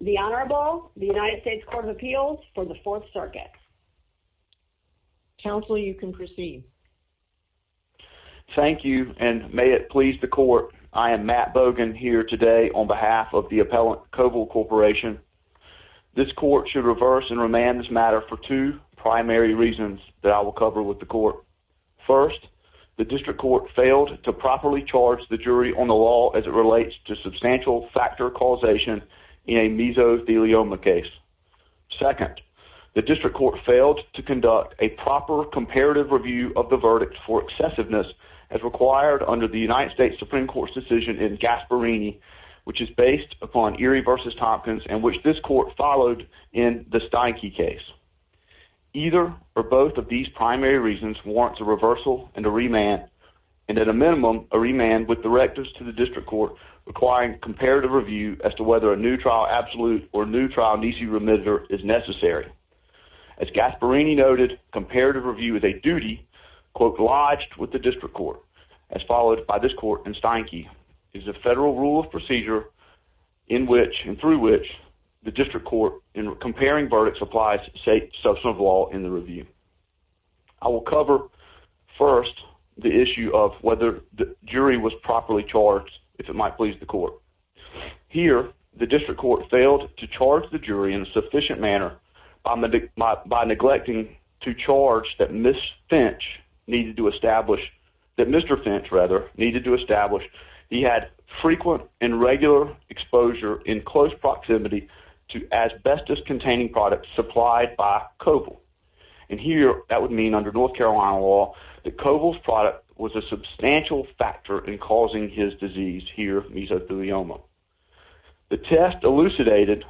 The Honorable, the United States Court of Appeals for the Fourth Circuit. Counsel you can proceed. Thank you and may it please the court, I am Matt Bogan here today on behalf of the appellant Covil Corporation. This court should reverse and remand this matter for two primary reasons that I will cover with the court. First, the district court failed to properly charge the jury on the law as it relates to substantial factor causation in a mesothelioma case. Second, the district court failed to conduct a proper comparative review of the verdict for excessiveness as required under the United States Supreme Court's decision in Gasparini which is based upon Erie v. Tompkins and which this court followed in the Steinke case. Either or both of these primary reasons warrants a reversal and a remand and at a minimum a remand with directives to the district court requiring comparative review as to whether a new trial absolute or new trial nisi remitter is necessary. As Gasparini noted, comparative review is a duty, quote, lodged with the district court as followed by this court in Steinke is a federal rule of procedure in which and through which the district court in comparing verdicts applies state substantive law in the review. I will cover first the issue of whether the jury was properly charged if it might please the court. Here, the district court failed to charge the jury in a sufficient manner by neglecting to charge that Ms. Finch needed to establish, that Mr. Finch rather, needed to establish he had frequent and regular exposure in close proximity to asbestos containing products supplied by Koval. And here that would mean under North Carolina law that Koval's product was a substantial factor in causing his disease here, mesothelioma. The test elucidated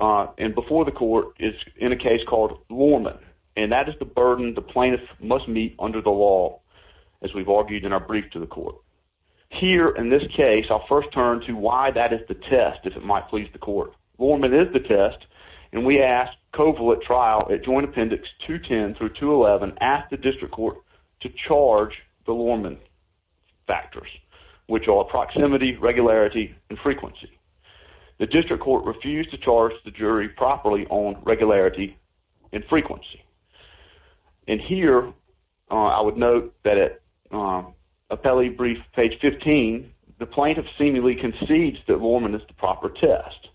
and before the court is in a case called Lorman and that is the burden the plaintiff must meet under the law as we've argued in our brief to the court. Here, in this case, I'll first turn to why that is the test if it might please the court. Lorman is the test and we asked Koval at trial at joint appendix 210 through 211 asked the district court to charge the Lorman factors which are proximity, regularity, and frequency. The district court refused to charge the jury properly on regularity and frequency. And here, I would note that at appellee brief page 15, the plaintiff seemingly concedes that Lorman is the proper test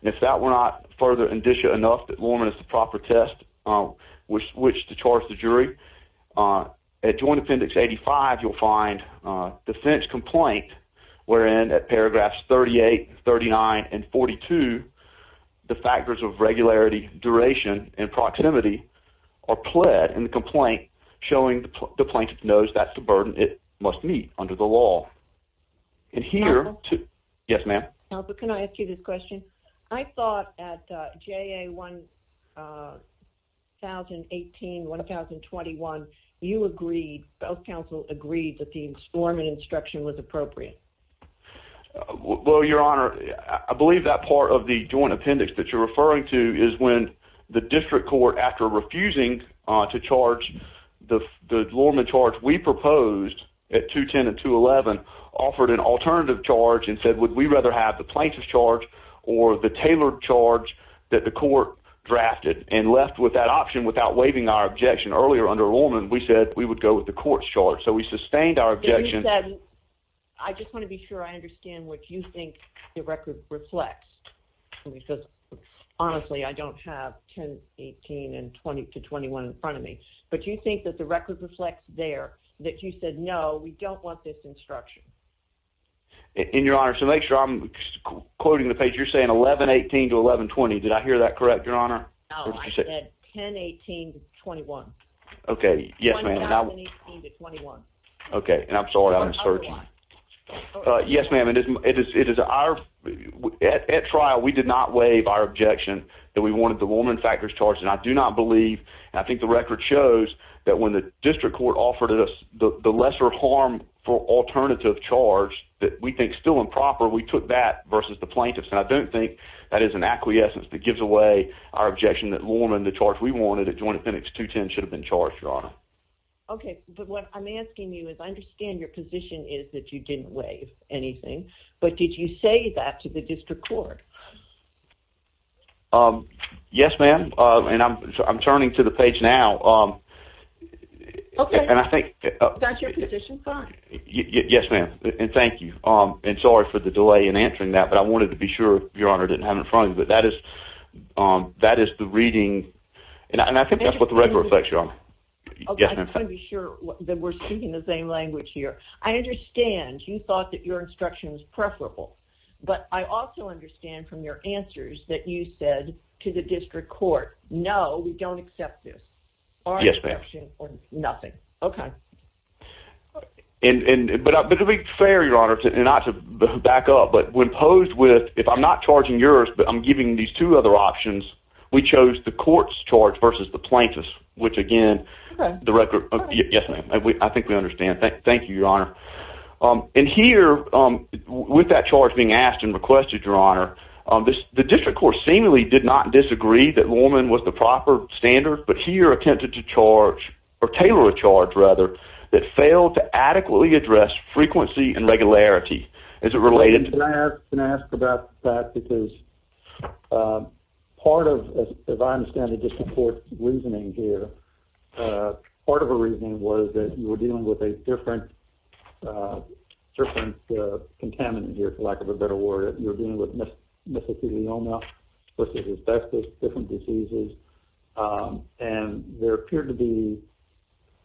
and if that were not further indicia enough that Lorman is the proper test which to charge the jury, at joint appendix 85 you'll find the Finch are pled in the complaint showing the plaintiff knows that's the burden it must meet under the law. And here... Counsel? Yes, ma'am. Counsel, can I ask you this question? I thought at JA 1018, 1021, you agreed, both counsel agreed that the Lorman instruction was appropriate. Well, your honor, I believe that part of the joint appendix that you're referring to is when the district court, after refusing to charge the Lorman charge we proposed at 210 and 211 offered an alternative charge and said, would we rather have the plaintiff's charge or the tailored charge that the court drafted and left with that option without waiving our objection. Earlier, under Lorman, we said we would go with the court's charge, so we sustained our objection... You said... I just want to be sure I understand what you think the record reflects because, honestly, I don't have 1018 and 20 to 21 in front of me, but you think that the record reflects there that you said, no, we don't want this instruction. In your honor, to make sure I'm quoting the page, you're saying 1118 to 1120, did I hear that correct, your honor? No, I said 1018 to 21. Okay. Yes, ma'am. 1018 to 21. Okay. And I'm sorry, I'm searching. Yes, ma'am. At trial, we did not waive our objection that we wanted the Lorman factors charged, and I do not believe, and I think the record shows that when the district court offered us the lesser harm for alternative charge that we think is still improper, we took that versus the plaintiff's. And I don't think that is an acquiescence that gives away our objection that Lorman, the charge we wanted at Joint Appendix 210, should have been charged, your honor. Okay. But what I'm asking you is, I understand your position is that you didn't waive anything, but did you say that to the district court? Yes, ma'am. And I'm turning to the page now. Okay. And I think... That's your position? Fine. Yes, ma'am. And thank you. And sorry for the delay in answering that, but I wanted to be sure, your honor, didn't have it in front of me. But that is the reading, and I think that's what the record reflects, your honor. Yes, ma'am. And I want to be sure that we're speaking the same language here. I understand you thought that your instruction was preferable, but I also understand from your answers that you said to the district court, no, we don't accept this. Yes, ma'am. Our instruction was nothing. Okay. But it would be fair, your honor, and not to back up, but when posed with, if I'm not charging yours, but I'm giving these two other options, we chose the court's charge versus the plaintiff's, which again, the record... Okay. Yes, ma'am. I think we understand. Thank you, your honor. And here, with that charge being asked and requested, your honor, the district court seemingly did not disagree that Lorman was the proper standard, but here attempted to charge, or tailor a charge, rather, that failed to adequately address frequency and regularity. Is it related to... I'm going to ask about that, because part of, as I understand the district court's reasoning here, part of the reasoning was that you were dealing with a different contaminant here, for lack of a better word. You were dealing with mesothelioma versus asbestos, different diseases, and there appeared to be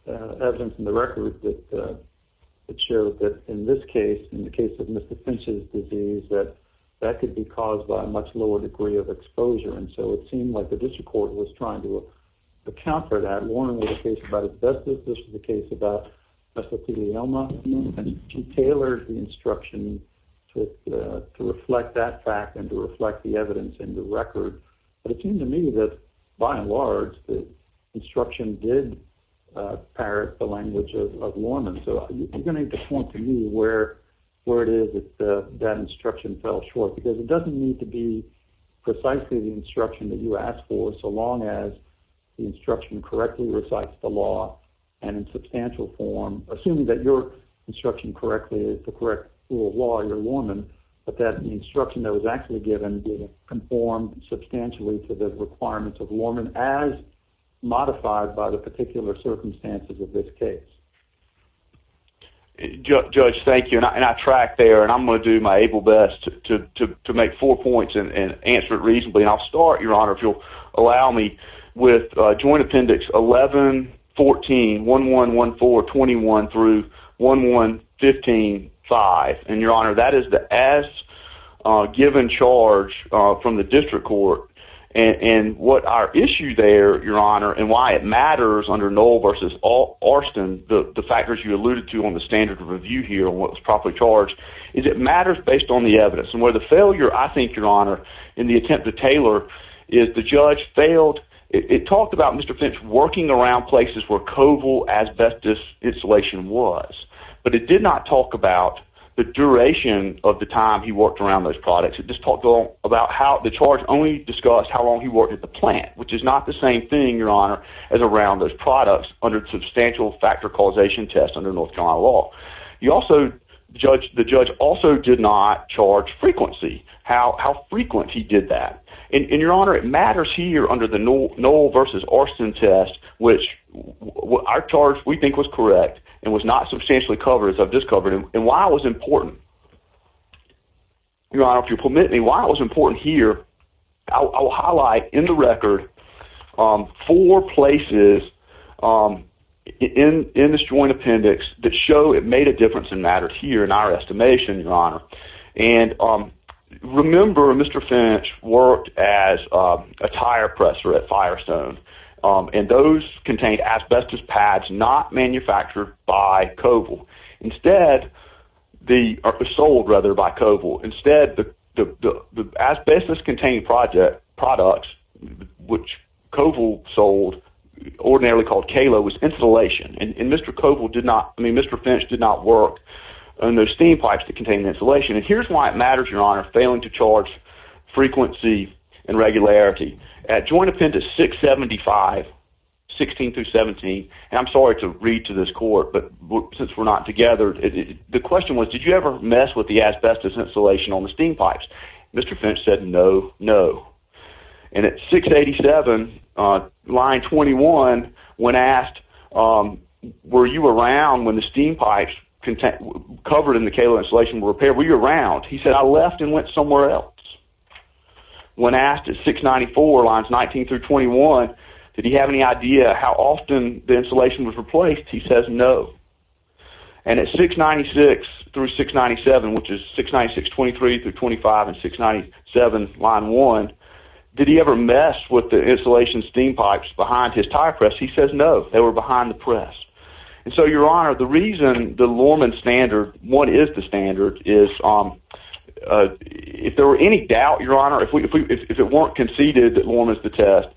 evidence in the record that showed that in this case, in the case of Mr. Finch's disease, that that could be caused by a much lower degree of exposure, and so it seemed like the district court was trying to account for that. Lorman was a case about asbestos, this was a case about mesothelioma, and he tailored the instruction to reflect that fact and to reflect the evidence in the record, but it seemed to me that, by and large, the instruction did parrot the language of Lorman, so I'm going to point to you where it is that that instruction fell short, because it doesn't need to be precisely the instruction that you asked for, so long as the instruction correctly recites the law, and in substantial form, assuming that your instruction correctly is the correct rule of law, your Lorman, but that the instruction that was actually given conformed substantially to the requirements of Lorman, as modified by the particular circumstances of this case. Judge, thank you, and I tracked there, and I'm going to do my able best to make four points and answer it reasonably, and I'll start, Your Honor, if you'll allow me, with Joint Appendix 11-14, 11-14-21 through 11-15-5, and Your Honor, that is the as-given charge from the district court, and what our issue there, Your Honor, and why it matters under Noll v. Arston, the factors you alluded to on the standard of review here on what was properly charged, is it matters based on the evidence, and where the failure, I think, Your Honor, in the attempt to tailor, is the judge failed, it talked about Mr. Finch working around places where cobalt asbestos insulation was, but it did not talk about the duration of the time he worked around those products, it just talked about how the charge only discussed how long he worked at the plant, which is not the same thing, Your Honor, as around those products under the substantial factor causation test under North Carolina law. You also, the judge also did not charge frequency, how frequent he did that, and Your Honor, it matters here under the Noll v. Arston test, which our charge, we think, was correct, and was not substantially covered, as I've just covered, and why it was important. Your Honor, if you'll permit me, why it was important here, I will highlight in the record four places in this joint appendix that show it made a difference and mattered here in our estimation, Your Honor, and remember Mr. Finch worked as a tire presser at Firestone, and those contained asbestos pads not manufactured by cobalt, instead, sold, rather, by cobalt, instead, the asbestos-containing products, which cobalt sold, ordinarily called KALO, was insulation, and Mr. Finch did not work on those steam pipes that contained the insulation, and here's why it matters, Your Honor, failing to charge frequency and regularity. At Joint Appendix 675, 16-17, and I'm sorry to read to this court, but since we're not Mr. Finch said, no, no, and at 687, Line 21, when asked, were you around when the steam pipes covered in the KALO insulation were repaired, were you around, he said, I left and went somewhere else. When asked at 694, Lines 19-21, did he have any idea how often the insulation was replaced, he says, no, and at 696-697, which is 696-23-25 and 697, Line 1, did he ever mess with the insulation steam pipes behind his tire press, he says, no, they were behind the press, and so, Your Honor, the reason the Lorman standard, what is the standard, is if there were any doubt, Your Honor, if it weren't conceded that Lorman's the test,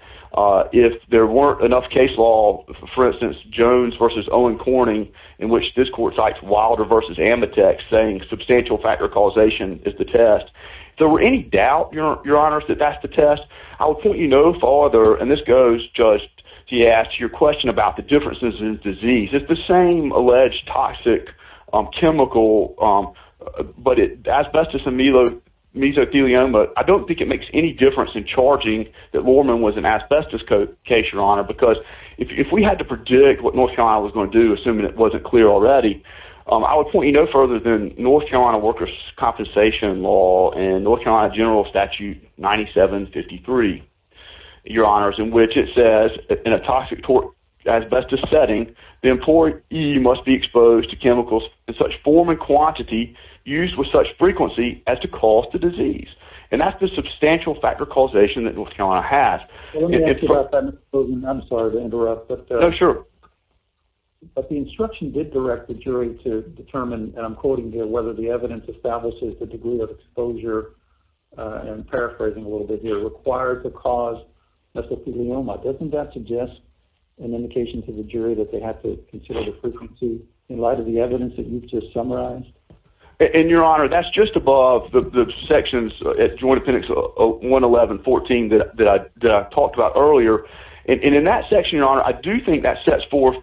if there weren't enough case law, for instance, Jones v. Owen Corning, in which this court cites Wilder v. Ametek saying substantial factor causation is the test, if there were any doubt, Your Honor, that that's the test, I would point you no farther, and this goes just to your question about the differences in disease, it's the same alleged toxic chemical, but asbestos and mesothelioma, I don't think it makes any difference in charging that Lorman was an If we had to predict what North Carolina was going to do, assuming it wasn't clear already, I would point you no further than North Carolina workers' compensation law and North Carolina general statute 9753, Your Honor, in which it says, in a toxic asbestos setting, the employee must be exposed to chemicals in such form and quantity used with such frequency as to cause the disease, and that's the substantial factor causation that North Carolina has. Let me ask you about that, Mr. Bozeman, I'm sorry to interrupt, but the instruction did direct the jury to determine, and I'm quoting here, whether the evidence establishes the degree of exposure, and I'm paraphrasing a little bit here, required to cause mesothelioma, doesn't that suggest an indication to the jury that they have to consider the frequency in light of the evidence that you've just summarized? And, Your Honor, that's just above the sections at Joint Appendix 111.14 that I talked about earlier, and in that section, Your Honor, I do think that sets forth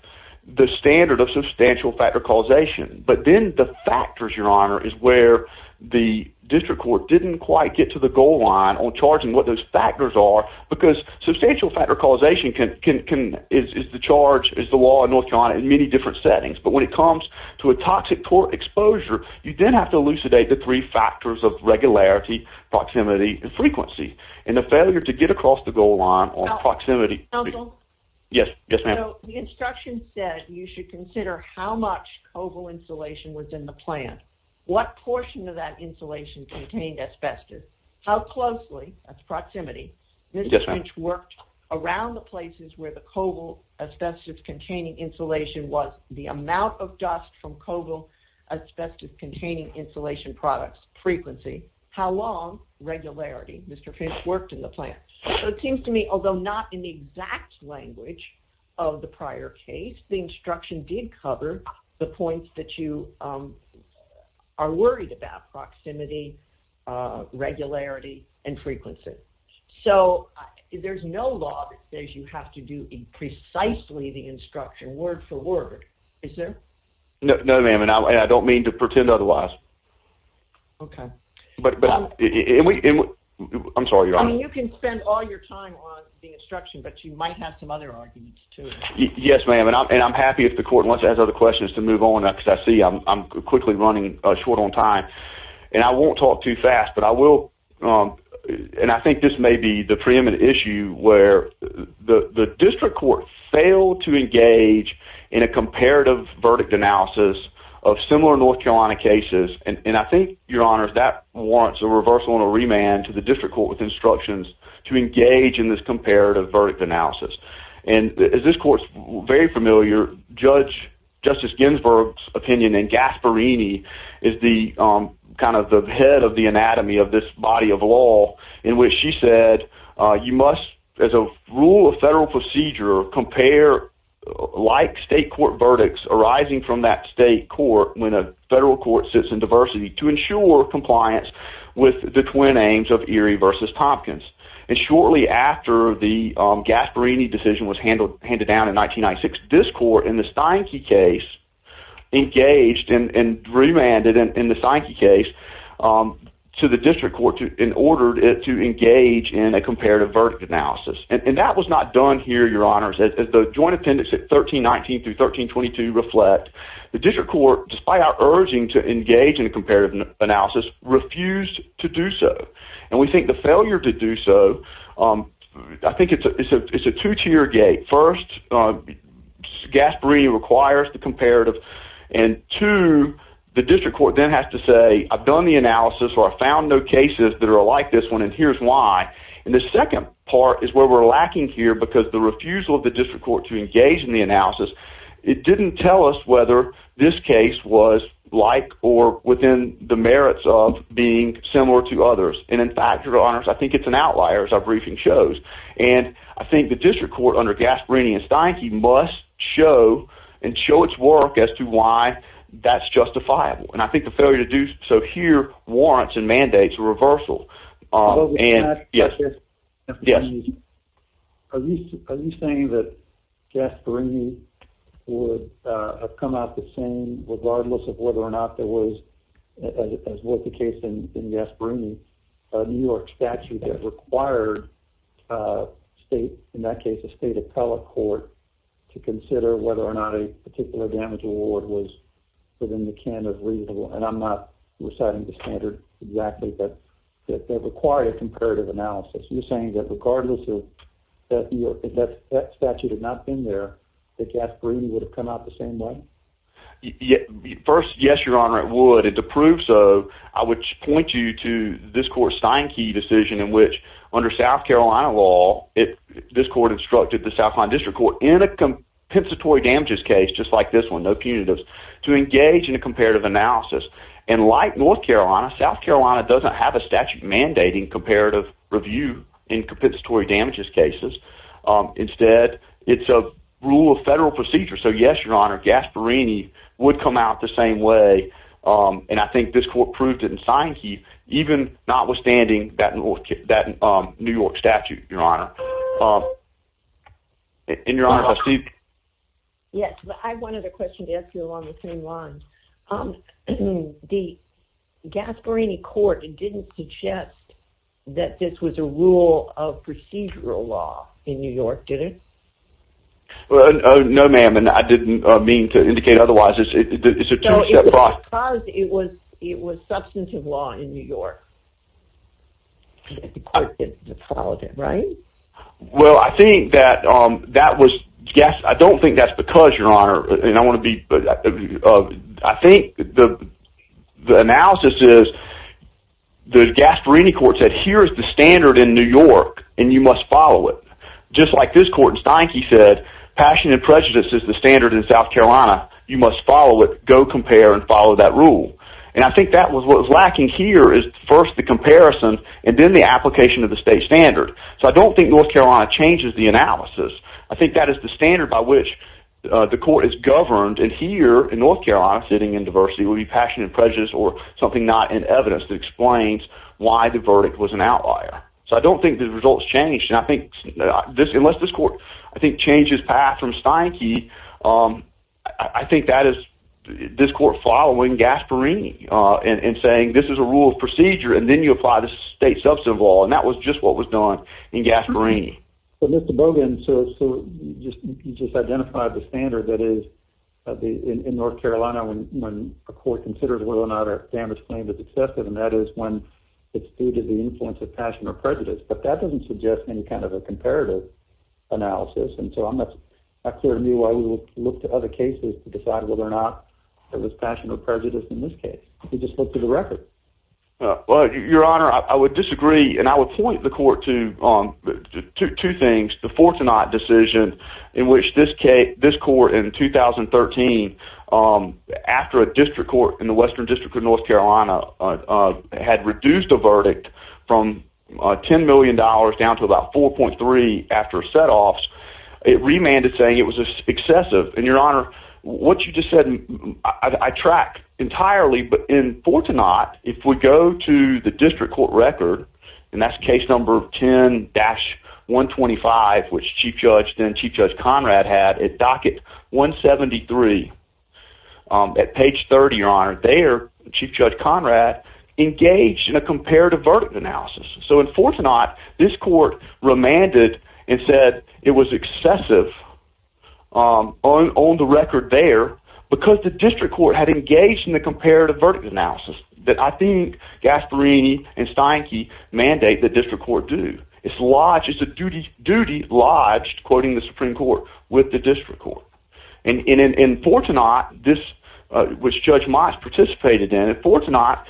the standard of substantial factor causation, but then the factors, Your Honor, is where the district court didn't quite get to the goal line on charging what those factors are, because substantial factor causation is the charge, is the law in North Carolina in many different settings, but when it comes to a toxic tort exposure, you then have to elucidate the three factors of regularity, proximity, and frequency, and the failure to get across the goal line on proximity. Yes, yes, ma'am. So, the instruction said you should consider how much cobalt insulation was in the plant, what portion of that insulation contained asbestos, how closely, that's proximity, this district worked around the places where the cobalt asbestos containing insulation was, the amount of dust from cobalt asbestos containing insulation products, frequency, how long, regularity, Mr. Finch worked in the plant. So, it seems to me, although not in the exact language of the prior case, the instruction did cover the points that you are worried about, proximity, regularity, and frequency. So, there's no law that says you have to do precisely the instruction, word for word, is there? No, ma'am, and I don't mean to pretend otherwise. Okay. But, I'm sorry, Your Honor. I mean, you can spend all your time on the instruction, but you might have some other arguments, too. Yes, ma'am, and I'm happy if the court wants to ask other questions to move on, because I see I'm quickly running short on time, and I won't talk too fast, but I will, and I think this may be the preeminent issue where the district court failed to engage in a comparative verdict analysis of similar North Carolina cases, and I think, Your Honor, that warrants a reversal and a remand to the district court with instructions to engage in this comparative verdict analysis, and as this court's very familiar, Judge, Justice Ginsburg's opinion and Gasparini is kind of the head of the anatomy of this body of law in which she said, you must, as a rule of federal procedure, compare like state court verdicts arising from that state court when a federal court sits in diversity to ensure compliance with the twin aims of Erie versus Tompkins, and shortly after the Gasparini decision was handed down in 1996, this court in the Steinke case engaged and remanded, in the Steinke case, to the district court in order to engage in a comparative verdict analysis, and that was not done here, Your Honors, as the joint attendance at 1319 through 1322 reflect. The district court, despite our urging to engage in a comparative analysis, refused to do so, and we think the failure to do so, I think it's a two-tier gate. First, Gasparini requires the comparative, and two, the district court then has to say, I've done the analysis or I've found no cases that are like this one, and here's why, and the second part is where we're lacking here because the refusal of the district court to engage in the analysis, it didn't tell us whether this case was like or within the merits of being similar to others, and in fact, Your Honors, I think it's an outlier as our briefing shows, and I think the district court under Gasparini and Steinke must show and show its work as to why that's justifiable, and I think the failure to do so here warrants and mandates a reversal, and yes, yes, are you saying that Gasparini would have come out the same regardless of whether or not there was, as was the case in Gasparini, a district court statute that required a state, in that case, a state appellate court to consider whether or not a particular damage award was within the can of reasonable, and I'm not reciting the standard exactly, but that required a comparative analysis, you're saying that regardless of that statute had not been there, that Gasparini would have come out the same way? First, yes, Your Honor, it would, and to prove so, I would point you to this court, the Steinke decision in which, under South Carolina law, this court instructed the South Carolina district court in a compensatory damages case, just like this one, no punitives, to engage in a comparative analysis, and like North Carolina, South Carolina doesn't have a statute mandating comparative review in compensatory damages cases, instead, it's a rule of federal procedure, so yes, Your Honor, Gasparini would come out the same way, and I think this court proved it in Steinke, even notwithstanding that New York statute, Your Honor, and Your Honor, I see- Yes, but I have one other question to ask you along the same lines. The Gasparini court didn't suggest that this was a rule of procedural law in New York, did it? Well, no, ma'am, and I didn't mean to indicate otherwise, it's a two-step process. So it was because it was substantive law in New York that the court followed it, right? Well, I think that that was- I don't think that's because, Your Honor, and I want to be- I think the analysis is the Gasparini court said, here's the standard in New York, and you must follow it, just like this court in Steinke said, passion and prejudice is the standard in South Carolina, you must follow it, go compare, and follow that rule. And I think that was what was lacking here is first the comparison, and then the application of the state standard. So I don't think North Carolina changes the analysis. I think that is the standard by which the court is governed, and here, in North Carolina, sitting in diversity, would be passion and prejudice or something not in evidence that explains why the verdict was an outlier. So I don't think the results changed, and I think this- unless this court, I think, changed its path from Steinke, I think that is this court following Gasparini and saying, this is a rule of procedure, and then you apply the state substantive law, and that was just what was done in Gasparini. But Mr. Boggan, so you just identified the standard that is in North Carolina when a court considers whether or not a standard claim is excessive, and that is when it's the influence of passion or prejudice, but that doesn't suggest any kind of a comparative analysis, and so I'm not clear to me why you would look to other cases to decide whether or not it was passion or prejudice in this case. You just looked at the record. Well, Your Honor, I would disagree, and I would point the court to two things. The Fortinot decision in which this court in 2013, after a district court in the Western District of North Carolina, from $10 million down to about 4.3 after setoffs, it remanded saying it was excessive, and Your Honor, what you just said, I track entirely, but in Fortinot, if we go to the district court record, and that's case number 10-125, which Chief Judge then Chief Judge Conrad had at docket 173, at page 30, Your Honor, there Chief Judge Conrad engaged in a comparative verdict analysis, so in Fortinot, this court remanded and said it was excessive on the record there because the district court had engaged in the comparative verdict analysis that I think Gasparini and Steinke mandate that district court do. It's a duty lodged, quoting the Supreme Court, with the district court, and in Fortinot, which Judge Moss participated in, in Fortinot,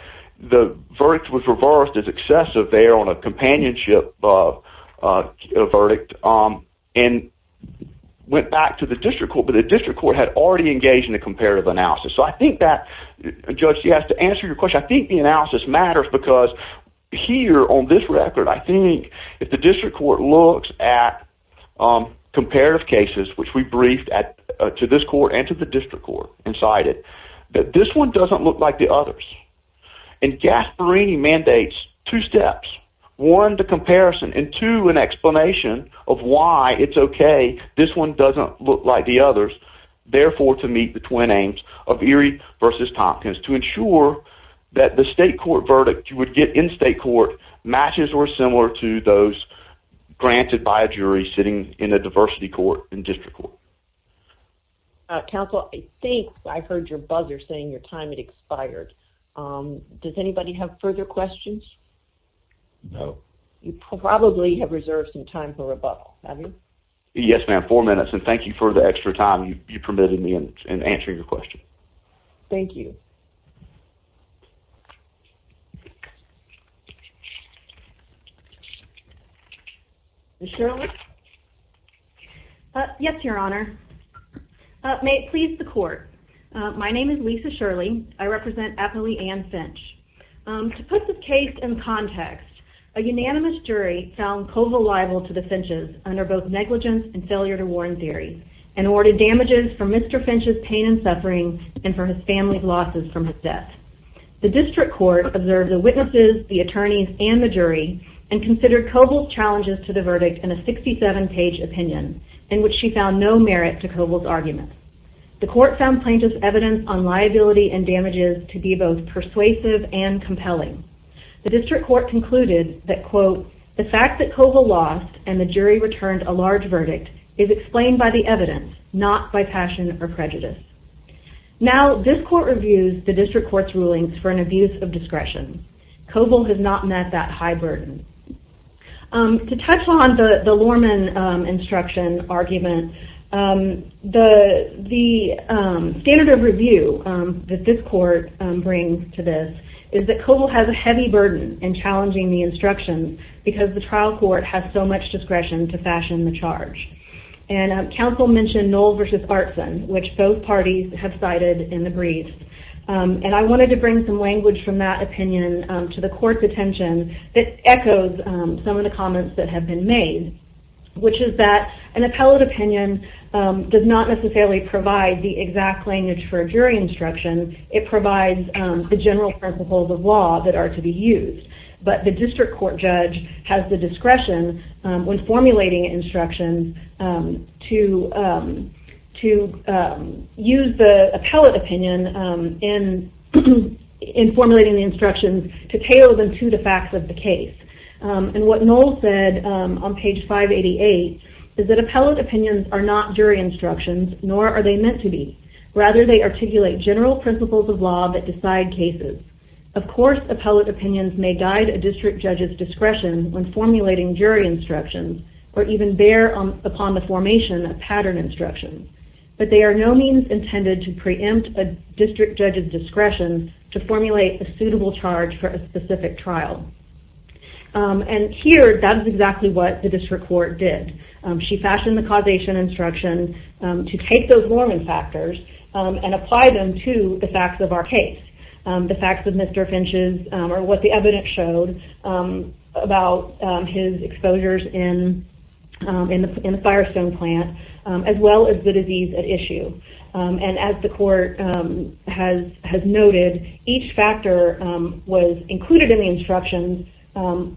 the verdict was reversed as excessive there on a companionship verdict and went back to the district court, but the district court had already engaged in the comparative analysis, so I think that, Judge, she has to answer your question. I think the analysis matters because here on this record, I think if the district court looks at comparative cases, which we briefed to this court and to the district court and cited, that this one doesn't look like the others, and Gasparini mandates two steps, one, the comparison, and two, an explanation of why it's okay this one doesn't look like the others, therefore, to meet the twin aims of Erie v. Tompkins, to ensure that the state court matches or similar to those granted by a jury sitting in a diversity court and district court. Counsel, I think I heard your buzzer saying your time had expired. Does anybody have further questions? No. You probably have reserved some time for rebuttal, have you? Yes, ma'am, four minutes, and thank you for the extra time you permitted me in answering your question. Thank you. Ms. Shirley? Yes, Your Honor. May it please the court. My name is Lisa Shirley. I represent Eppley and Finch. To put the case in context, a unanimous jury found Koval liable to the Finches under both negligence and failure to warn theory and awarded damages for Mr. Finch's pain and for his family's losses from his death. The district court observed the witnesses, the attorneys, and the jury, and considered Koval's challenges to the verdict in a 67-page opinion in which she found no merit to Koval's argument. The court found Plaintiff's evidence on liability and damages to be both persuasive and compelling. The district court concluded that, quote, the fact that Koval lost and the jury returned a large verdict is explained by the evidence, not by passion or prejudice. Now, this court reviews the district court's rulings for an abuse of discretion. Koval has not met that high burden. To touch on the Lorman instruction argument, the standard of review that this court brings to this is that Koval has a heavy burden in challenging the instructions because the trial court has so much discretion to fashion the charge. And counsel mentioned Knoll v. Artson, which both parties have cited in the brief. And I wanted to bring some language from that opinion to the court's attention that echoes some of the comments that have been made, which is that an appellate opinion does not necessarily provide the exact language for a jury instruction. It provides the general principles of law that are to be used. But the district court judge has the discretion when formulating instructions to use the appellate opinion in formulating the instructions to tail them to the facts of the case. And what Knoll said on page 588 is that appellate opinions are not jury instructions, nor are they meant to be. Rather, they articulate general principles of law that decide cases. Of course, appellate opinions may guide a district judge's discretion when formulating jury instructions, or even bear upon the formation of pattern instructions. But they are no means intended to preempt a district judge's discretion to formulate a suitable charge for a specific trial. And here, that is exactly what the district court did. She fashioned the causation instruction to take those Mormon factors and apply them to the facts of our case. The facts of Mr. Finch's, or what the evidence showed about his exposures in the Firestone plant, as well as the disease at issue. And as the court has noted, each factor was included in the instructions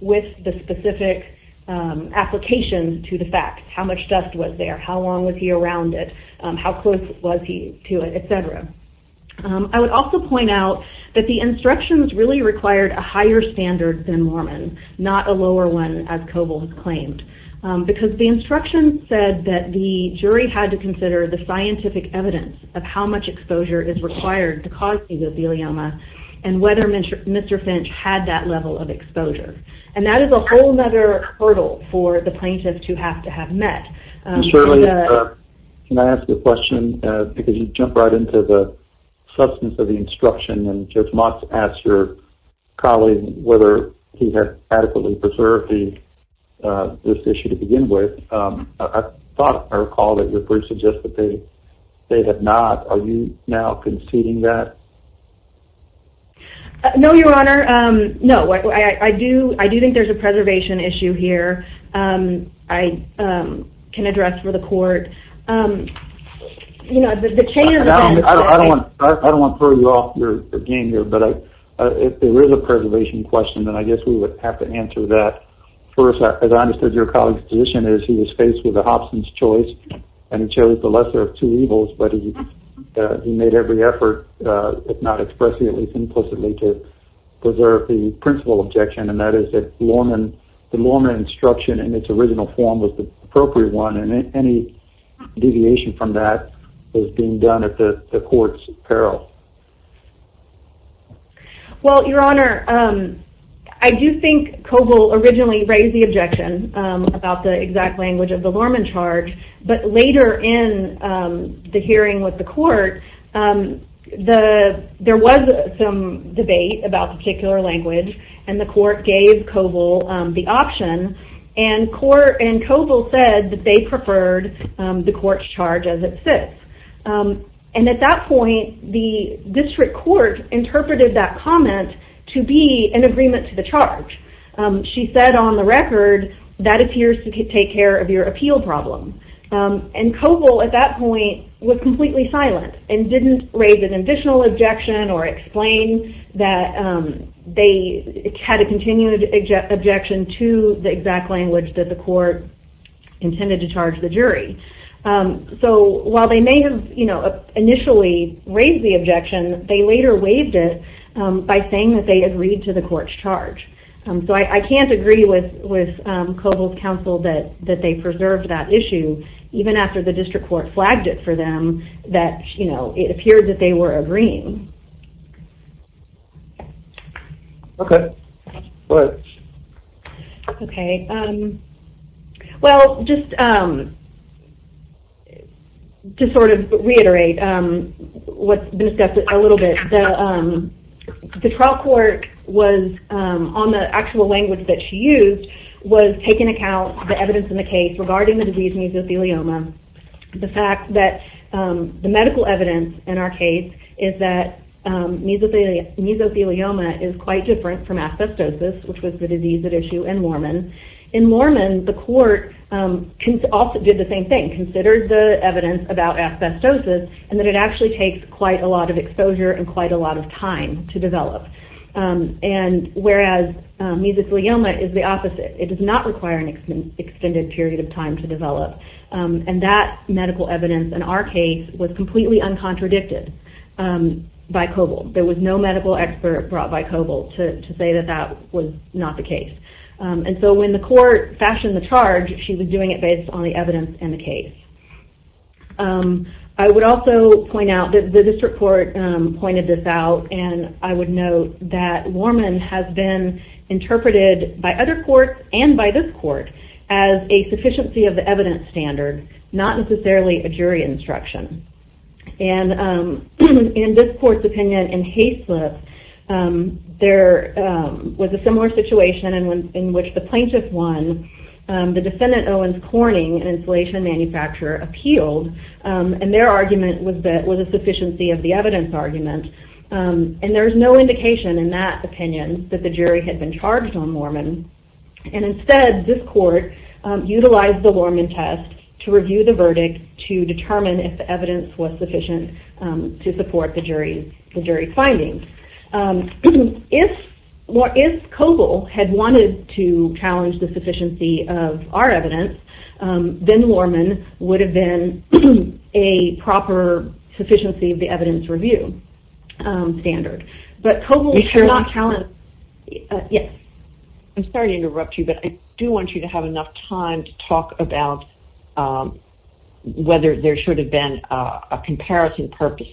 with the specific application to the facts. How much dust was there? How long was he around it? How close was he to it? Et cetera. I would also point out that the instructions really required a higher standard than Mormon. Not a lower one, as Coble has claimed. Because the instructions said that the jury had to consider the scientific evidence of how much exposure is required to cause mesothelioma, and whether Mr. Finch had that level of exposure. And that is a whole other hurdle for the plaintiff to have to have met. And Shirley, can I ask a question? Because you jump right into the substance of the instruction. Judge Motz asked your colleague whether he had adequately preserved this issue to begin with. I thought, I recall, that your brief suggested that they had not. Are you now conceding that? No, Your Honor. No. I do think there's a preservation issue here. I do think there's a preservation issue that the court can address for the court. I don't want to throw you off your game here, but if there is a preservation question, then I guess we would have to answer that. First, as I understood your colleague's position, is he was faced with a Hobson's choice, and chose the lesser of two evils. But he made every effort, if not expressly, at least implicitly, to preserve the principal objection. And that is that the Lorman instruction, in its original form, was the appropriate one. And any deviation from that was being done at the court's peril. Well, Your Honor, I do think Coble originally raised the objection about the exact language of the Lorman charge. But later in the hearing with the court, there was some debate about particular language, and the court gave Coble the option. And Coble said that they preferred the court's charge as it sits. And at that point, the district court interpreted that comment to be an agreement to the charge. She said on the record, that appears to take care of your appeal problem. And Coble, at that point, was completely silent, and didn't raise an additional objection, or explain that they had a continued objection to the exact language that the court intended to charge the jury. So, while they may have initially raised the objection, they later waived it by saying that they agreed to the court's charge. So, I can't agree with Coble's counsel that they preserved that issue, even after the district court flagged it for them, that, you know, it appeared that they were agreeing. Okay. Go ahead. Okay. Well, just to sort of reiterate what's been discussed a little bit, the trial court was on the actual language that she used, was taking account of the evidence in the case. The fact that the medical evidence in our case is that mesothelioma is quite different from asbestosis, which was the disease at issue in Mormon. In Mormon, the court did the same thing, considered the evidence about asbestosis, and that it actually takes quite a lot of exposure and quite a lot of time to develop. And whereas mesothelioma is the disease, that medical evidence in our case was completely uncontradicted by Coble. There was no medical expert brought by Coble to say that that was not the case. And so, when the court fashioned the charge, she was doing it based on the evidence in the case. I would also point out that the district court pointed this out, and I would note that Mormon has been interpreted by other courts and by this court as a sufficiency of the evidence standard, not necessarily a jury instruction. And in this court's opinion, in Hayslip, there was a similar situation in which the plaintiff won. The defendant, Owens Corning, an insulation manufacturer, appealed, and their argument was that it was a sufficiency of the evidence argument. And there is no indication in that opinion that the jury had been charged on Mormon. And instead, this court utilized the Mormon test to review the verdict to determine if the evidence was sufficient to support the jury's findings. If Coble had wanted to challenge the sufficiency of our evidence, then Mormon would have been a proper sufficiency of the evidence review standard. But Coble should not challenge the jury's findings. I'm sorry to interrupt you, but I do want you to have enough time to talk about whether there should have been a comparison purpose,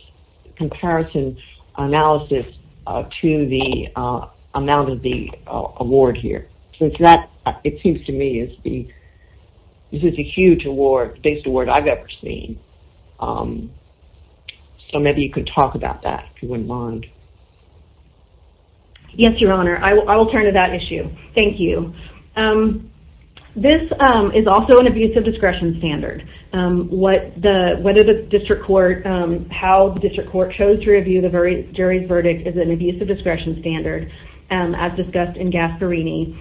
comparison analysis to the amount of the award here, since that, it seems to me, is a huge award, biggest award I've ever seen. So maybe you could talk a little bit about that. Yes, Your Honor. I will turn to that issue. Thank you. This is also an abuse of discretion standard. What the, what did the district court, how the district court chose to review the jury's verdict is an abuse of discretion standard, as discussed in Gasparini.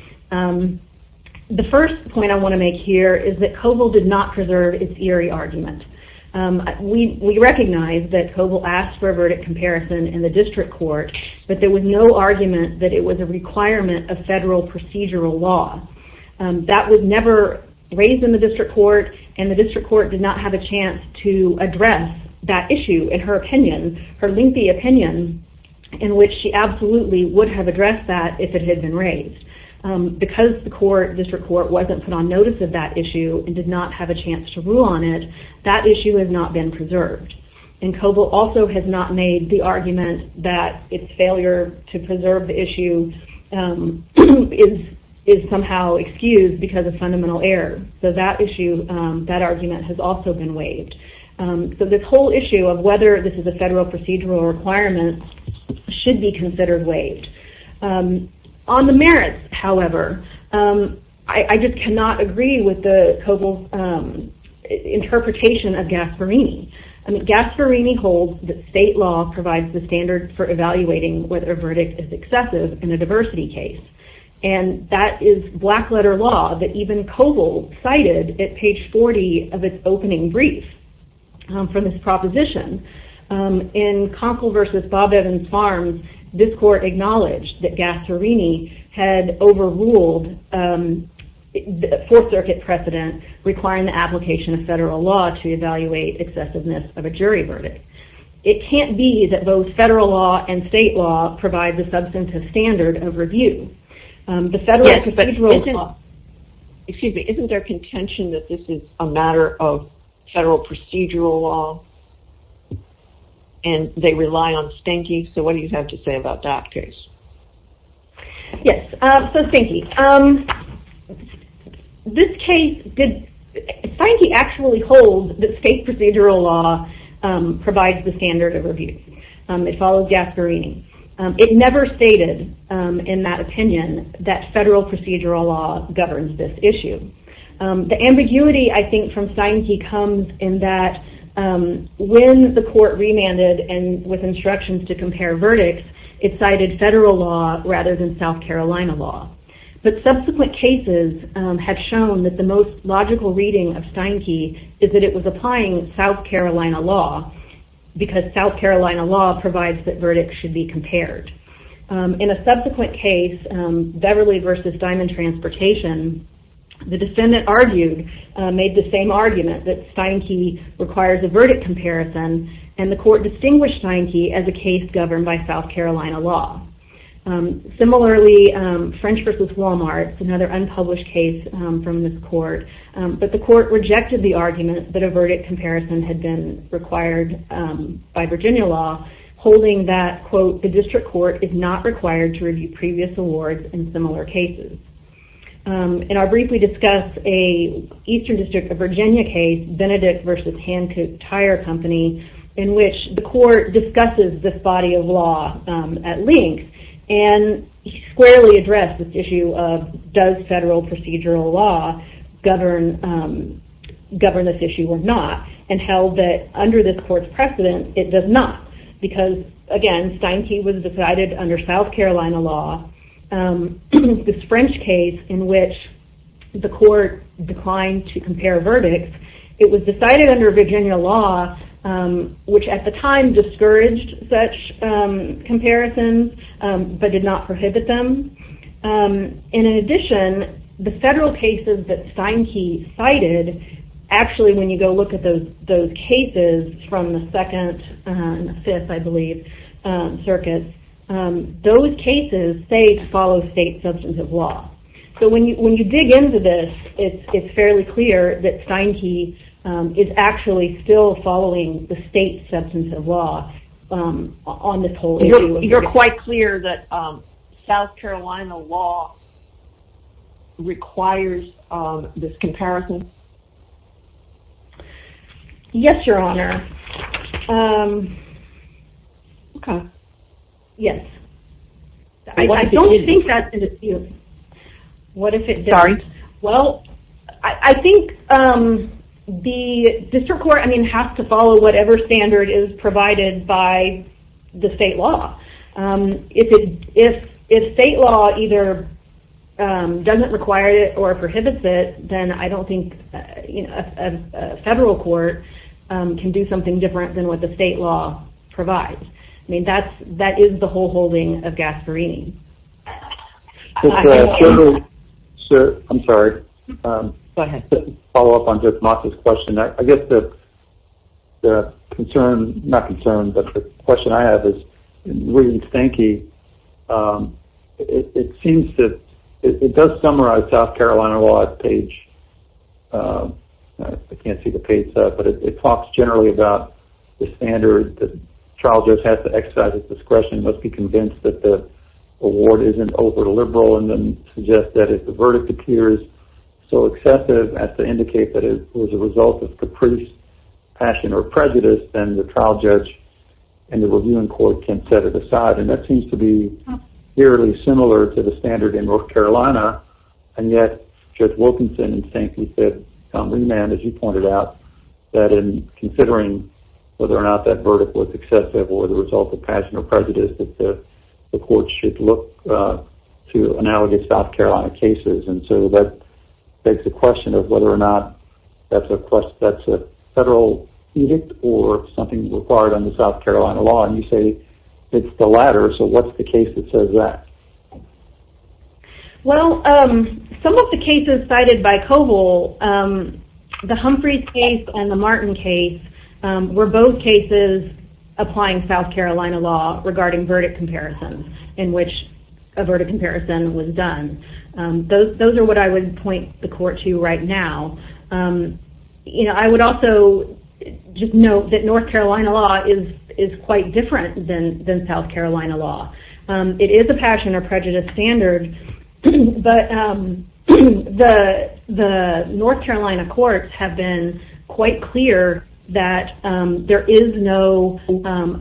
The first point I want to make here is that Coble did not preserve its Erie argument. We recognize that Coble asked for a verdict comparison in the district court, but there was no argument that it was a requirement of federal procedural law. That was never raised in the district court, and the district court did not have a chance to address that issue in her opinion, her lengthy opinion, in which she absolutely would have addressed that if it had been raised. Because the court, district court, wasn't put on notice of that issue and did not have a chance to rule on it, that issue has not been preserved. And Coble also has not made the argument that its failure to preserve the issue is somehow excused because of fundamental error. So that issue, that argument has also been waived. So this whole issue of whether this is a federal procedural requirement should be considered waived. On the merits, however, I just cannot agree with Coble's interpretation of Gasparini. Gasparini holds that state law provides the standard for evaluating whether a verdict is excessive in a diversity case. And that is black letter law that even Coble cited at page 40 of its opening brief for this proposition. In Conkle v. Bob Evans Farms, this court acknowledged that Gasparini had overruled the 4th Circuit precedent requiring the application of federal law to evaluate excessiveness of a jury verdict. It can't be that both federal law and state law provide the substantive standard of review. The federal procedural law, excuse me, isn't there contention that this is a matter of federal procedural law and they rely on stinking? So what do you think? Also stinky. This case, Steinke actually holds that state procedural law provides the standard of review. It follows Gasparini. It never stated in that opinion that federal procedural law governs this issue. The ambiguity, I think, from Steinke comes in that when the court remanded and with instructions to compare verdicts, it cited federal law rather than South Carolina law. But subsequent cases have shown that the most logical reading of Steinke is that it was applying South Carolina law because South Carolina law provides that verdicts should be compared. In a subsequent case, Beverly v. Diamond Transportation, the defendant argued, made the same argument that Steinke requires a verdict comparison and the court rejected the argument that a verdict comparison had been required by Virginia law, holding that, quote, the district court is not required to review previous awards in similar cases. In our briefly discussed Eastern District of Virginia case, Benedict v. Hancock Tire Company, in which the court discusses this body of law at length and squarely addressed this issue of does federal procedural law govern this issue or not and held that under this court's precedent, it does not because, again, Steinke was decided under South Carolina law. This French case in which the court declined to compare verdicts, it was decided under Virginia law, which at the time discouraged such comparisons but did not prohibit them. In addition, the federal cases that Steinke cited, actually when you go look at those cases from the second and fifth, I believe, circuits, those cases say to follow state substance of law on this whole issue. You're quite clear that South Carolina law requires this comparison? Yes, Your Honor. Yes. What if it didn't? I don't think that's an issue. What if it didn't? Sorry? Well, I think the district court has to follow whatever standard is provided by the state law. If state law either doesn't require it or prohibits it, then I don't think a federal court can do something different than what the state law provides. That is the whole holding of Gasparini. I'm sorry. Go ahead. To follow up on Jeff Mott's question, I guess the concern, not concern, but the question I have is, in reading Steinke, it does summarize South Carolina law at page, I can't see the page, but it talks generally about the standard, the trial judge has to exercise his discretion, must be convinced that the award isn't overly liberal, and then suggest that if the verdict appears so excessive as to indicate that it was a result of caprice, passion, or prejudice, then the trial judge and the reviewing court can set it aside. And that seems to be fairly similar to the standard in North Carolina, and yet Judge Wilkinson and Steinke said, as you pointed out, that in considering whether or not that the court should look to analogous South Carolina cases, and so that begs the question of whether or not that's a federal edict or something required under South Carolina law, and you say it's the latter, so what's the case that says that? Well, some of the cases cited by Coble, the Humphreys case and the Martin case, were both cases applying South Carolina law regarding verdict comparisons, in which a verdict comparison was done. Those are what I would point the court to right now. I would also just note that North Carolina law is quite different than South Carolina law. It is a passion or prejudice standard, but the North Carolina courts have been quite clear that there is no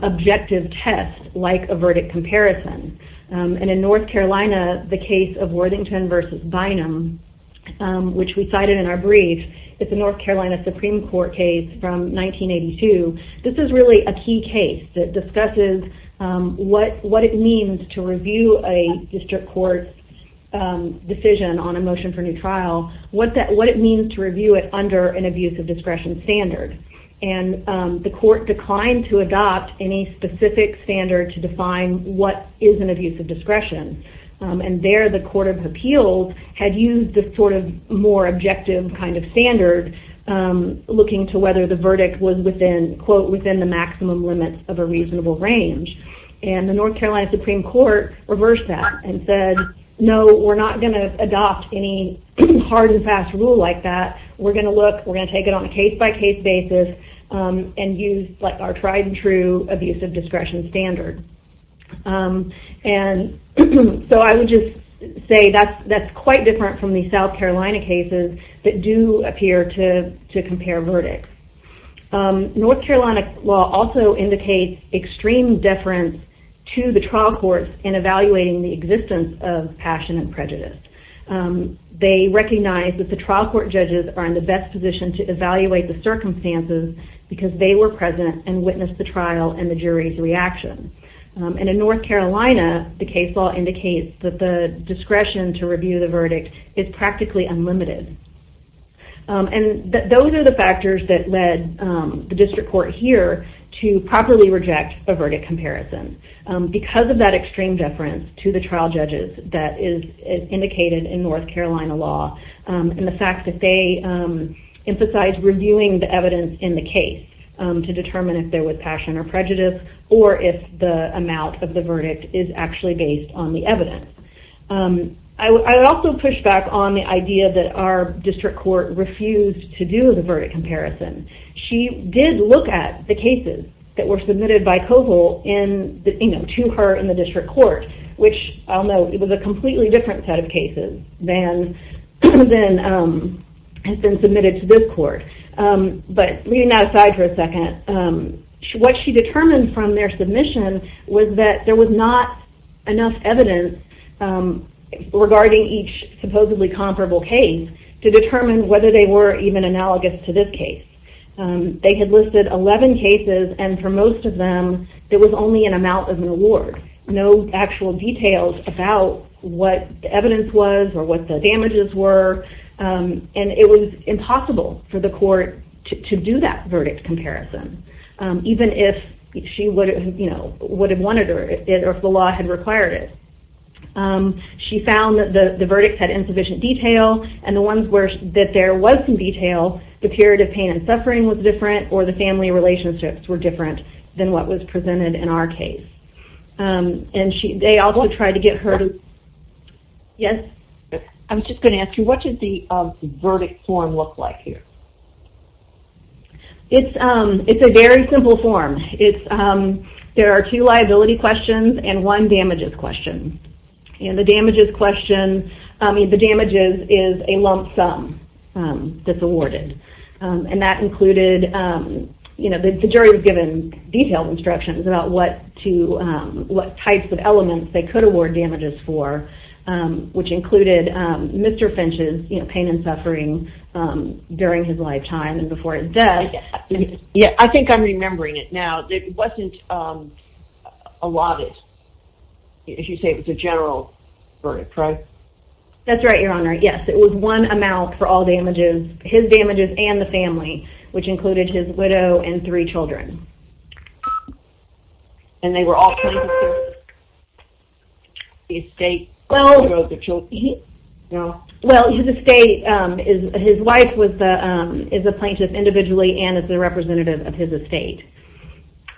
objective test like a verdict comparison, and in North Carolina, the case of Worthington v. Bynum, which we cited in our brief, is a North Carolina Supreme Court case from 1982. This is really a key case that discusses what it means to review a district court's decision on a motion for new trial, what it means to review it under an abuse of discretion standard, and the court declined to adopt any specific standard to define what is an abuse of discretion, and there the Court of Appeals had used the sort of more objective kind of standard looking to whether the verdict was within, quote, within the maximum limits of a reasonable range, and the North Carolina Supreme Court reversed that and said, no, we're not going to adopt any hard and fast rule like that. We're going to look, we're going to take it on a case-by-case basis and use our tried and true abuse of discretion standard. And so I would just say that's quite different from the South Carolina cases that do appear to compare verdicts. North Carolina law also indicates extreme deference to the trial courts in evaluating the existence of passion and prejudice. They recognize that the trial court judges are in the best position to evaluate the circumstances because they were present and witnessed the trial and the jury's reaction. And in North Carolina, the case law indicates that the discretion to review the verdict is practically unlimited. And those are the factors that led the district court here to properly reject a verdict comparison. Because of that extreme deference to the trial judges that is indicated in North Carolina law and the fact that they emphasized reviewing the evidence in the case to determine if there was passion or prejudice or if the amount of the verdict is actually based on the evidence. I would also push back on the idea that our district court refused to do the verdict comparison. She did look at the cases that were submitted by COVIL to her in the district court, which I'll note it was a completely different set of cases than has been submitted to this court. But leaving that aside for a second, what she determined from their submission was that there was not enough evidence regarding each supposedly comparable case to determine whether they were even analogous to this case. They had listed 11 cases and for most of them there was only an amount of an award. No actual details about what the evidence was or what the damages were. And it was impossible for the court to do that verdict comparison. Even if she would have wanted it or if the law had required it. She found that the verdicts had insufficient detail and the ones that there was some detail, the period of pain and suffering was different or the family relationships were different than what was presented in our case. And they also tried to get Yes? I was just going to ask you, what does the verdict form look like here? It's a very simple form. There are two liability questions and one damages question. And the damages question, I mean the damages is a lump sum that's awarded. And that included, you know, the jury was given detailed instructions about what types of elements they could award damages for which included Mr. Finch's pain and suffering during his lifetime and before his death. I think I'm remembering it now. It wasn't allotted. As you say, it was a general verdict, right? That's right, Your Honor. Yes, it was one amount for all damages, his damages and the family, which included his widow and three children. And they were all plaintiffs? Well, his estate, his wife is a plaintiff individually and is a representative of his estate.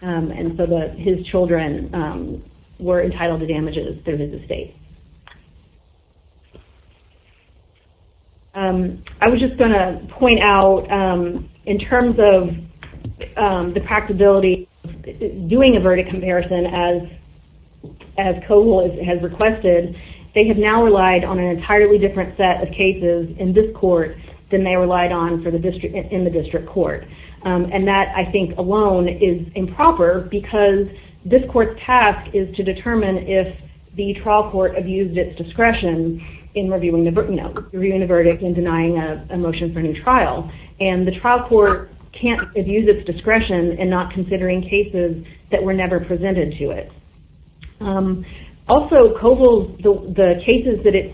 And so his children were entitled to damages through his estate. I was just going to point out, in terms of the practicability of doing a verdict comparison as COGOL has requested, they have now relied on an entirely different set of cases in this court than they relied on in the district court. And that, I think, alone is improper because this court's task is to determine if the trial court abused its discretion in reviewing the verdict and denying a motion for a new trial. And the trial court can't abuse its discretion in not considering cases that were never presented to it. Also, COGOL, the cases that it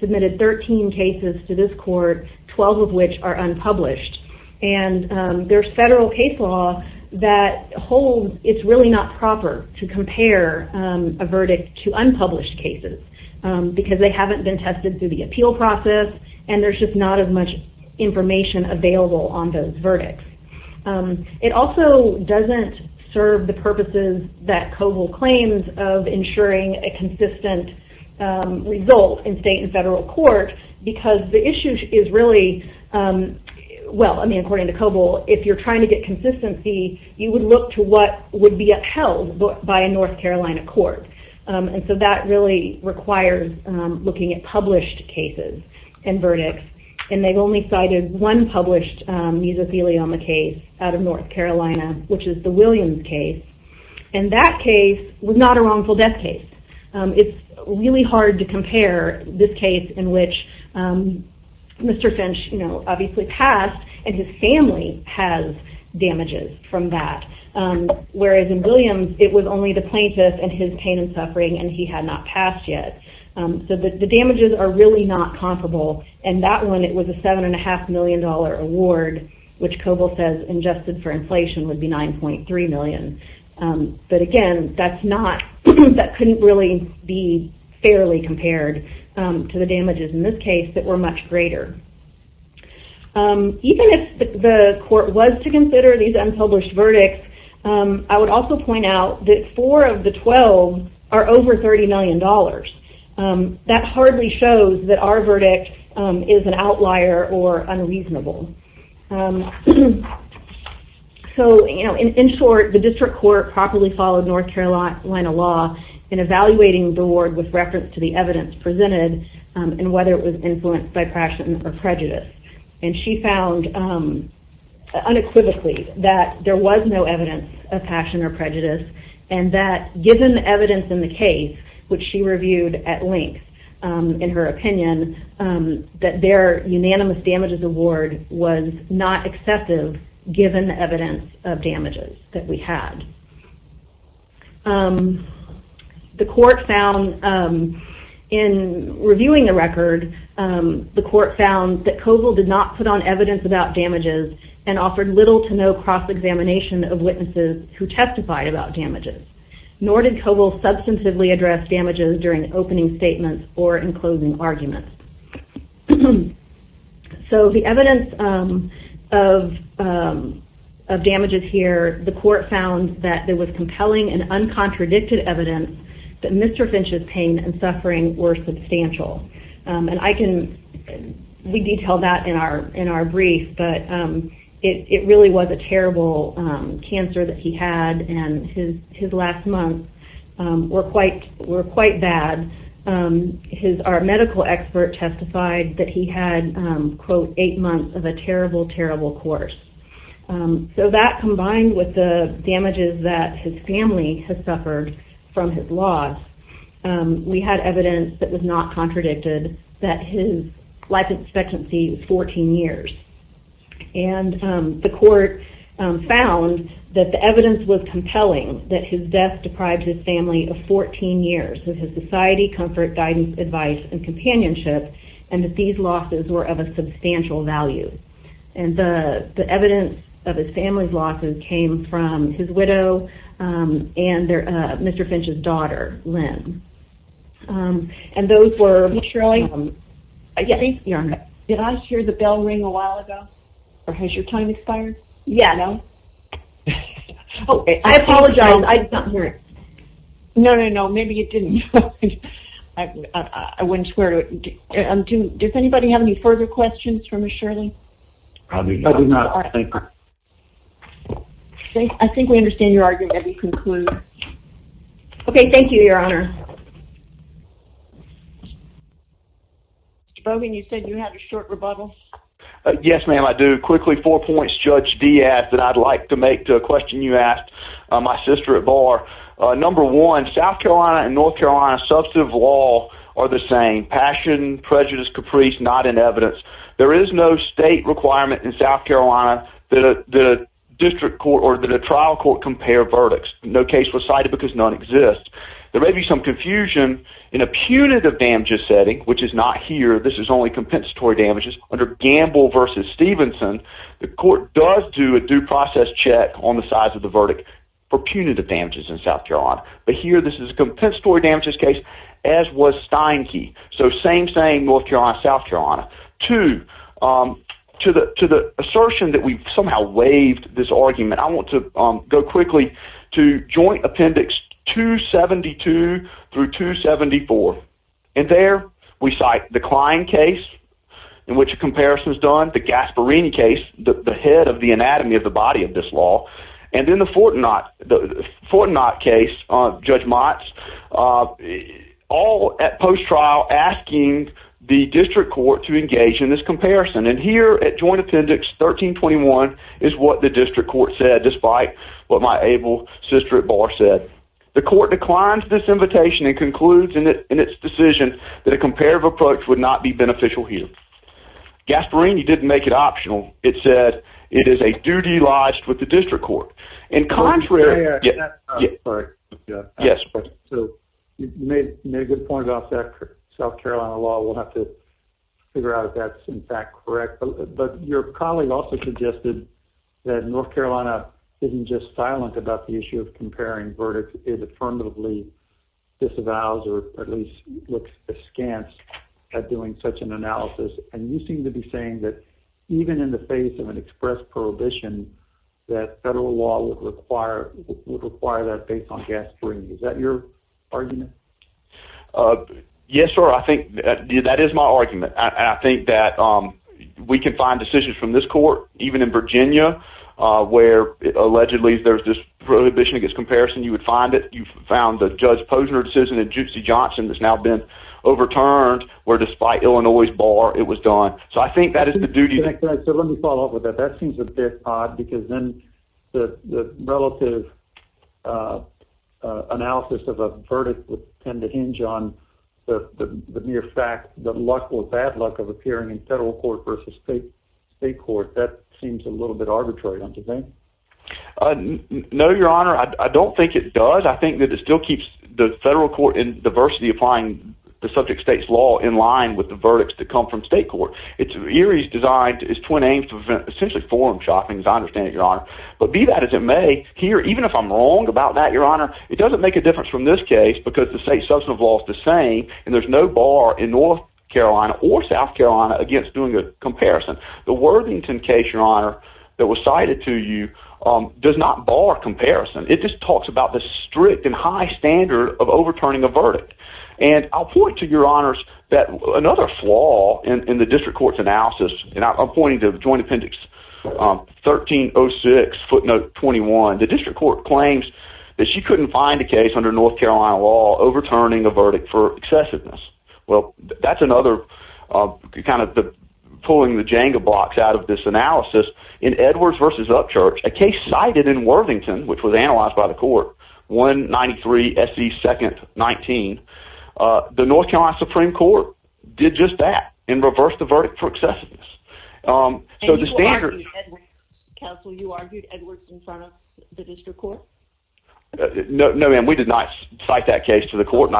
submitted 13 cases to this court, 12 of which are unpublished. And there's federal case law that holds it's really not proper to compare a verdict to unpublished cases because they haven't been tested through the appeal process. And there's just not as much information available on those verdicts. It also doesn't serve the purposes that COGOL claims of ensuring a consistent result in state and federal court because the issue is really, well, I mean, according to COGOL, if you're trying to get consistency, you would look to what would be upheld by a North Carolina court. And so that really requires looking at published cases and verdicts. And they've only cited one published mesothelioma case out of North Carolina, which is the Williams case. And that case was not a wrongful death case. It's really hard to compare this case in which Mr. Finch obviously passed and his family has damages from that. Whereas in Williams, it was only the plaintiff and his pain and it was a $7.5 million award, which COGOL says adjusted for inflation would be $9.3 million. But again, that's not, that couldn't really be fairly compared to the damages in this case that were much greater. Even if the court was to consider these unpublished verdicts, I would also point out that four of the twelve are over $30 million. That hardly shows that our verdict is an outlier or unreasonable. So, you know, in short, the district court properly followed North Carolina law in evaluating the award with reference to the evidence presented and whether it was influenced by passion or prejudice. And she found unequivocally that there was no evidence of passion or prejudice and that given the evidence in the case, which she reviewed at length in her opinion, that their unanimous damages award was not accepted given the evidence of damages that we had. The court found in reviewing the record, the court found that COGOL did not put on evidence about damages and offered little to no cross-examination of witnesses who testified about damages. Nor did COGOL substantively address damages during opening statements or in closing arguments. So the evidence of damages here, the court found that there was compelling and uncontradicted evidence that Mr. Finch's pain and suffering were substantial. And I can detail that in our brief, but it really was a terrible cancer that he had and his last month were quite bad. Our medical expert testified that he had, quote, eight months of a terrible, terrible course. So that combined with the damages that his family had suffered from his loss, we had evidence that was not contradicted that his life expectancy was 14 years. And the court found that the evidence was compelling that his death and that these losses were of a substantial value. And the evidence of his family's losses came from his widow and Mr. Finch's daughter, Lynn. And those were... Did I hear the bell ring a while ago? Or has your time expired? I apologize. I did not hear it. No, no, no. Maybe it didn't. I wouldn't swear to it. Does anybody have any further questions for Ms. Shirley? I think we understand your argument. Let me conclude. Okay. Thank you, Your Honor. Mr. Brogan, you said you had a short rebuttal. Yes, ma'am, I do. Quickly, four points Judge Dee asked that I'd like to make to a question you asked my sister at bar. Number one, South Carolina and North Carolina, substantive law are the same. Passion, prejudice, caprice, not in evidence. There is no state requirement in South Carolina that a district court or that a trial court compare verdicts. No case was cited because none exists. There may be some confusion in a punitive damages setting, which is not here. This is only compensatory damages under Gamble v. Stevenson. The court does do a due process check on the size of the verdict for punitive damages in South Carolina. But here this is a compensatory damages case as was I'm saying North Carolina, South Carolina. Two, to the assertion that we've somehow waived this argument, I want to go quickly to Joint Appendix 272 through 274. And there we cite the Klein case in which a comparison is done, the Gasparini case, the head of the anatomy of the body of this law, and then the district court to engage in this comparison. And here at Joint Appendix 1321 is what the district court said despite what my able sister at bar said. The court declined this invitation and concludes in its decision that a comparative approach would not be beneficial here. Gasparini didn't make it optional. It said it is a duty lodged with the district court. You made a good point about South Carolina law. We'll have to figure out if that's in fact correct. But your colleague also suggested that North Carolina isn't just silent about the issue of comparing verdicts. It affirmatively disavows or at least looks askance at doing such an analysis. And you seem to be saying that even in the face of an express prohibition that federal law would require that based on Gasparini. Is that your argument? Yes, sir. I think that is my argument. And I think that we can find decisions from this court even in Virginia where allegedly there's this prohibition against comparison. You would find it. So I think that is the duty. Let me follow up with that. That seems a bit odd because then the relative analysis of a verdict would tend to hinge on the mere fact that luck or bad luck of appearing in federal court versus state court. That seems a little bit arbitrary. No, your honor. I don't think it does. I think that it still keeps the federal court in diversity applying the subject state's law in line with the verdicts that come from state court. It's designed as twin aims to essentially forum shopping, as I understand it, your honor. But be that as it may, here, even if I'm wrong about that, your honor, it doesn't make a difference from this case because the state substantive law is the same and there's no bar in North Carolina or South Carolina against doing a comparison. The Worthington case, your honor, that was cited to you does not bar comparison. It just talks about the strict and high standard of overturning a verdict. And I'll point to your honors that another flaw in the district court's analysis, and I'm pointing to joint appendix 1306 footnote 21. The district court claims that she couldn't find a case under North Carolina law overturning a verdict for excessiveness. Well, that's another kind of pulling the Jenga box out of this analysis. In Edwards versus Upchurch, a case cited in Worthington, which was analyzed by the court, 193 S.E. 2nd 19, the North Carolina Supreme Court did just that and reversed the verdict for excessiveness. You argued Edwards in front of the district court? No, ma'am. We did not cite that case to the court. You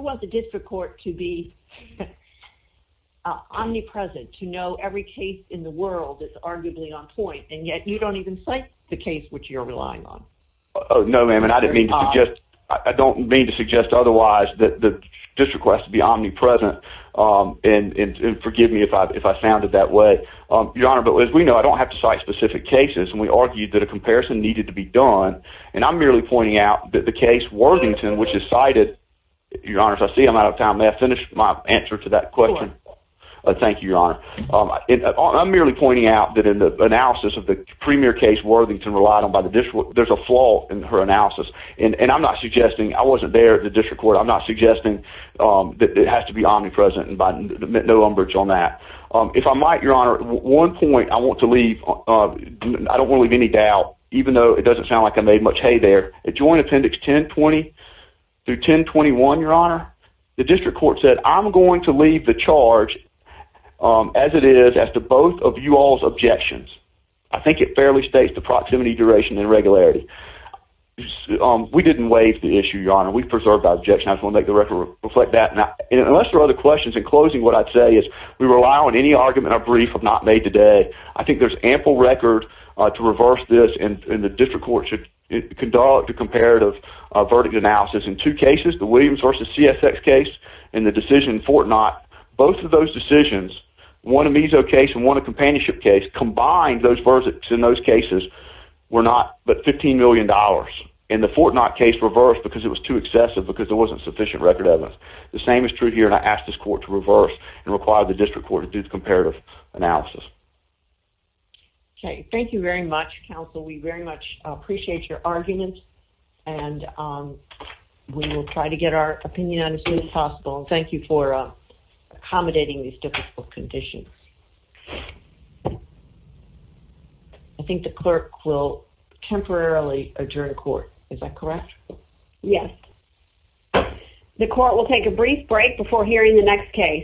want the district court to be omnipresent, to know every case in the world that's arguably on point, and yet you don't even cite the case which you're relying on. No, ma'am. And I don't mean to suggest otherwise that the district court has to be omnipresent. And forgive me if I found it that way, your honor. But as we know, I don't have to cite specific cases. And we argued that a comparison needed to be done. And I'm merely pointing out that the case Worthington, which is cited, your honors, I see I'm out of time. May I finish my answer to that question? Thank you, your honor. I'm merely pointing out that in the analysis of the premier case Worthington relied on by the district court, there's a flaw in her analysis. And I'm not suggesting, I wasn't there at the district court, I'm not suggesting that it has to be omnipresent and by no umbrage on that. If I might, your honor, one point I want to leave, I don't want to leave any doubt, even though it doesn't sound like I made much hay there, at joint appendix 1020 through 1021, your honor, the district court said, I'm going to leave the charge as it is, as to both of you all's objections. I think it fairly states the proximity, duration, and regularity. We didn't waive the issue, your honor. We preserved our objection. I just want to make the record reflect that. And unless there are other questions, in closing, what I'd say is we rely on any argument or brief if not made today. I think there's ample record to reverse this and the district court should conduct a comparative verdict analysis in two cases, the Williams v. CSX case and the decision in Fort Knott. Both of those decisions, one a meso case and one a companionship case, combined those verdicts in those cases were not but $15 million. And the Fort Knott case reversed because it was too excessive because there wasn't sufficient record evidence. The same is true here and I ask this court to reverse and require the district court to do the comparative analysis. Okay. Thank you very much, counsel. We very much appreciate your arguments. And we will try to get our opinion understood as possible. Thank you for accommodating these difficult conditions. I think the clerk will temporarily adjourn court. Is that correct? Yes. The court will take a brief break before hearing the next case.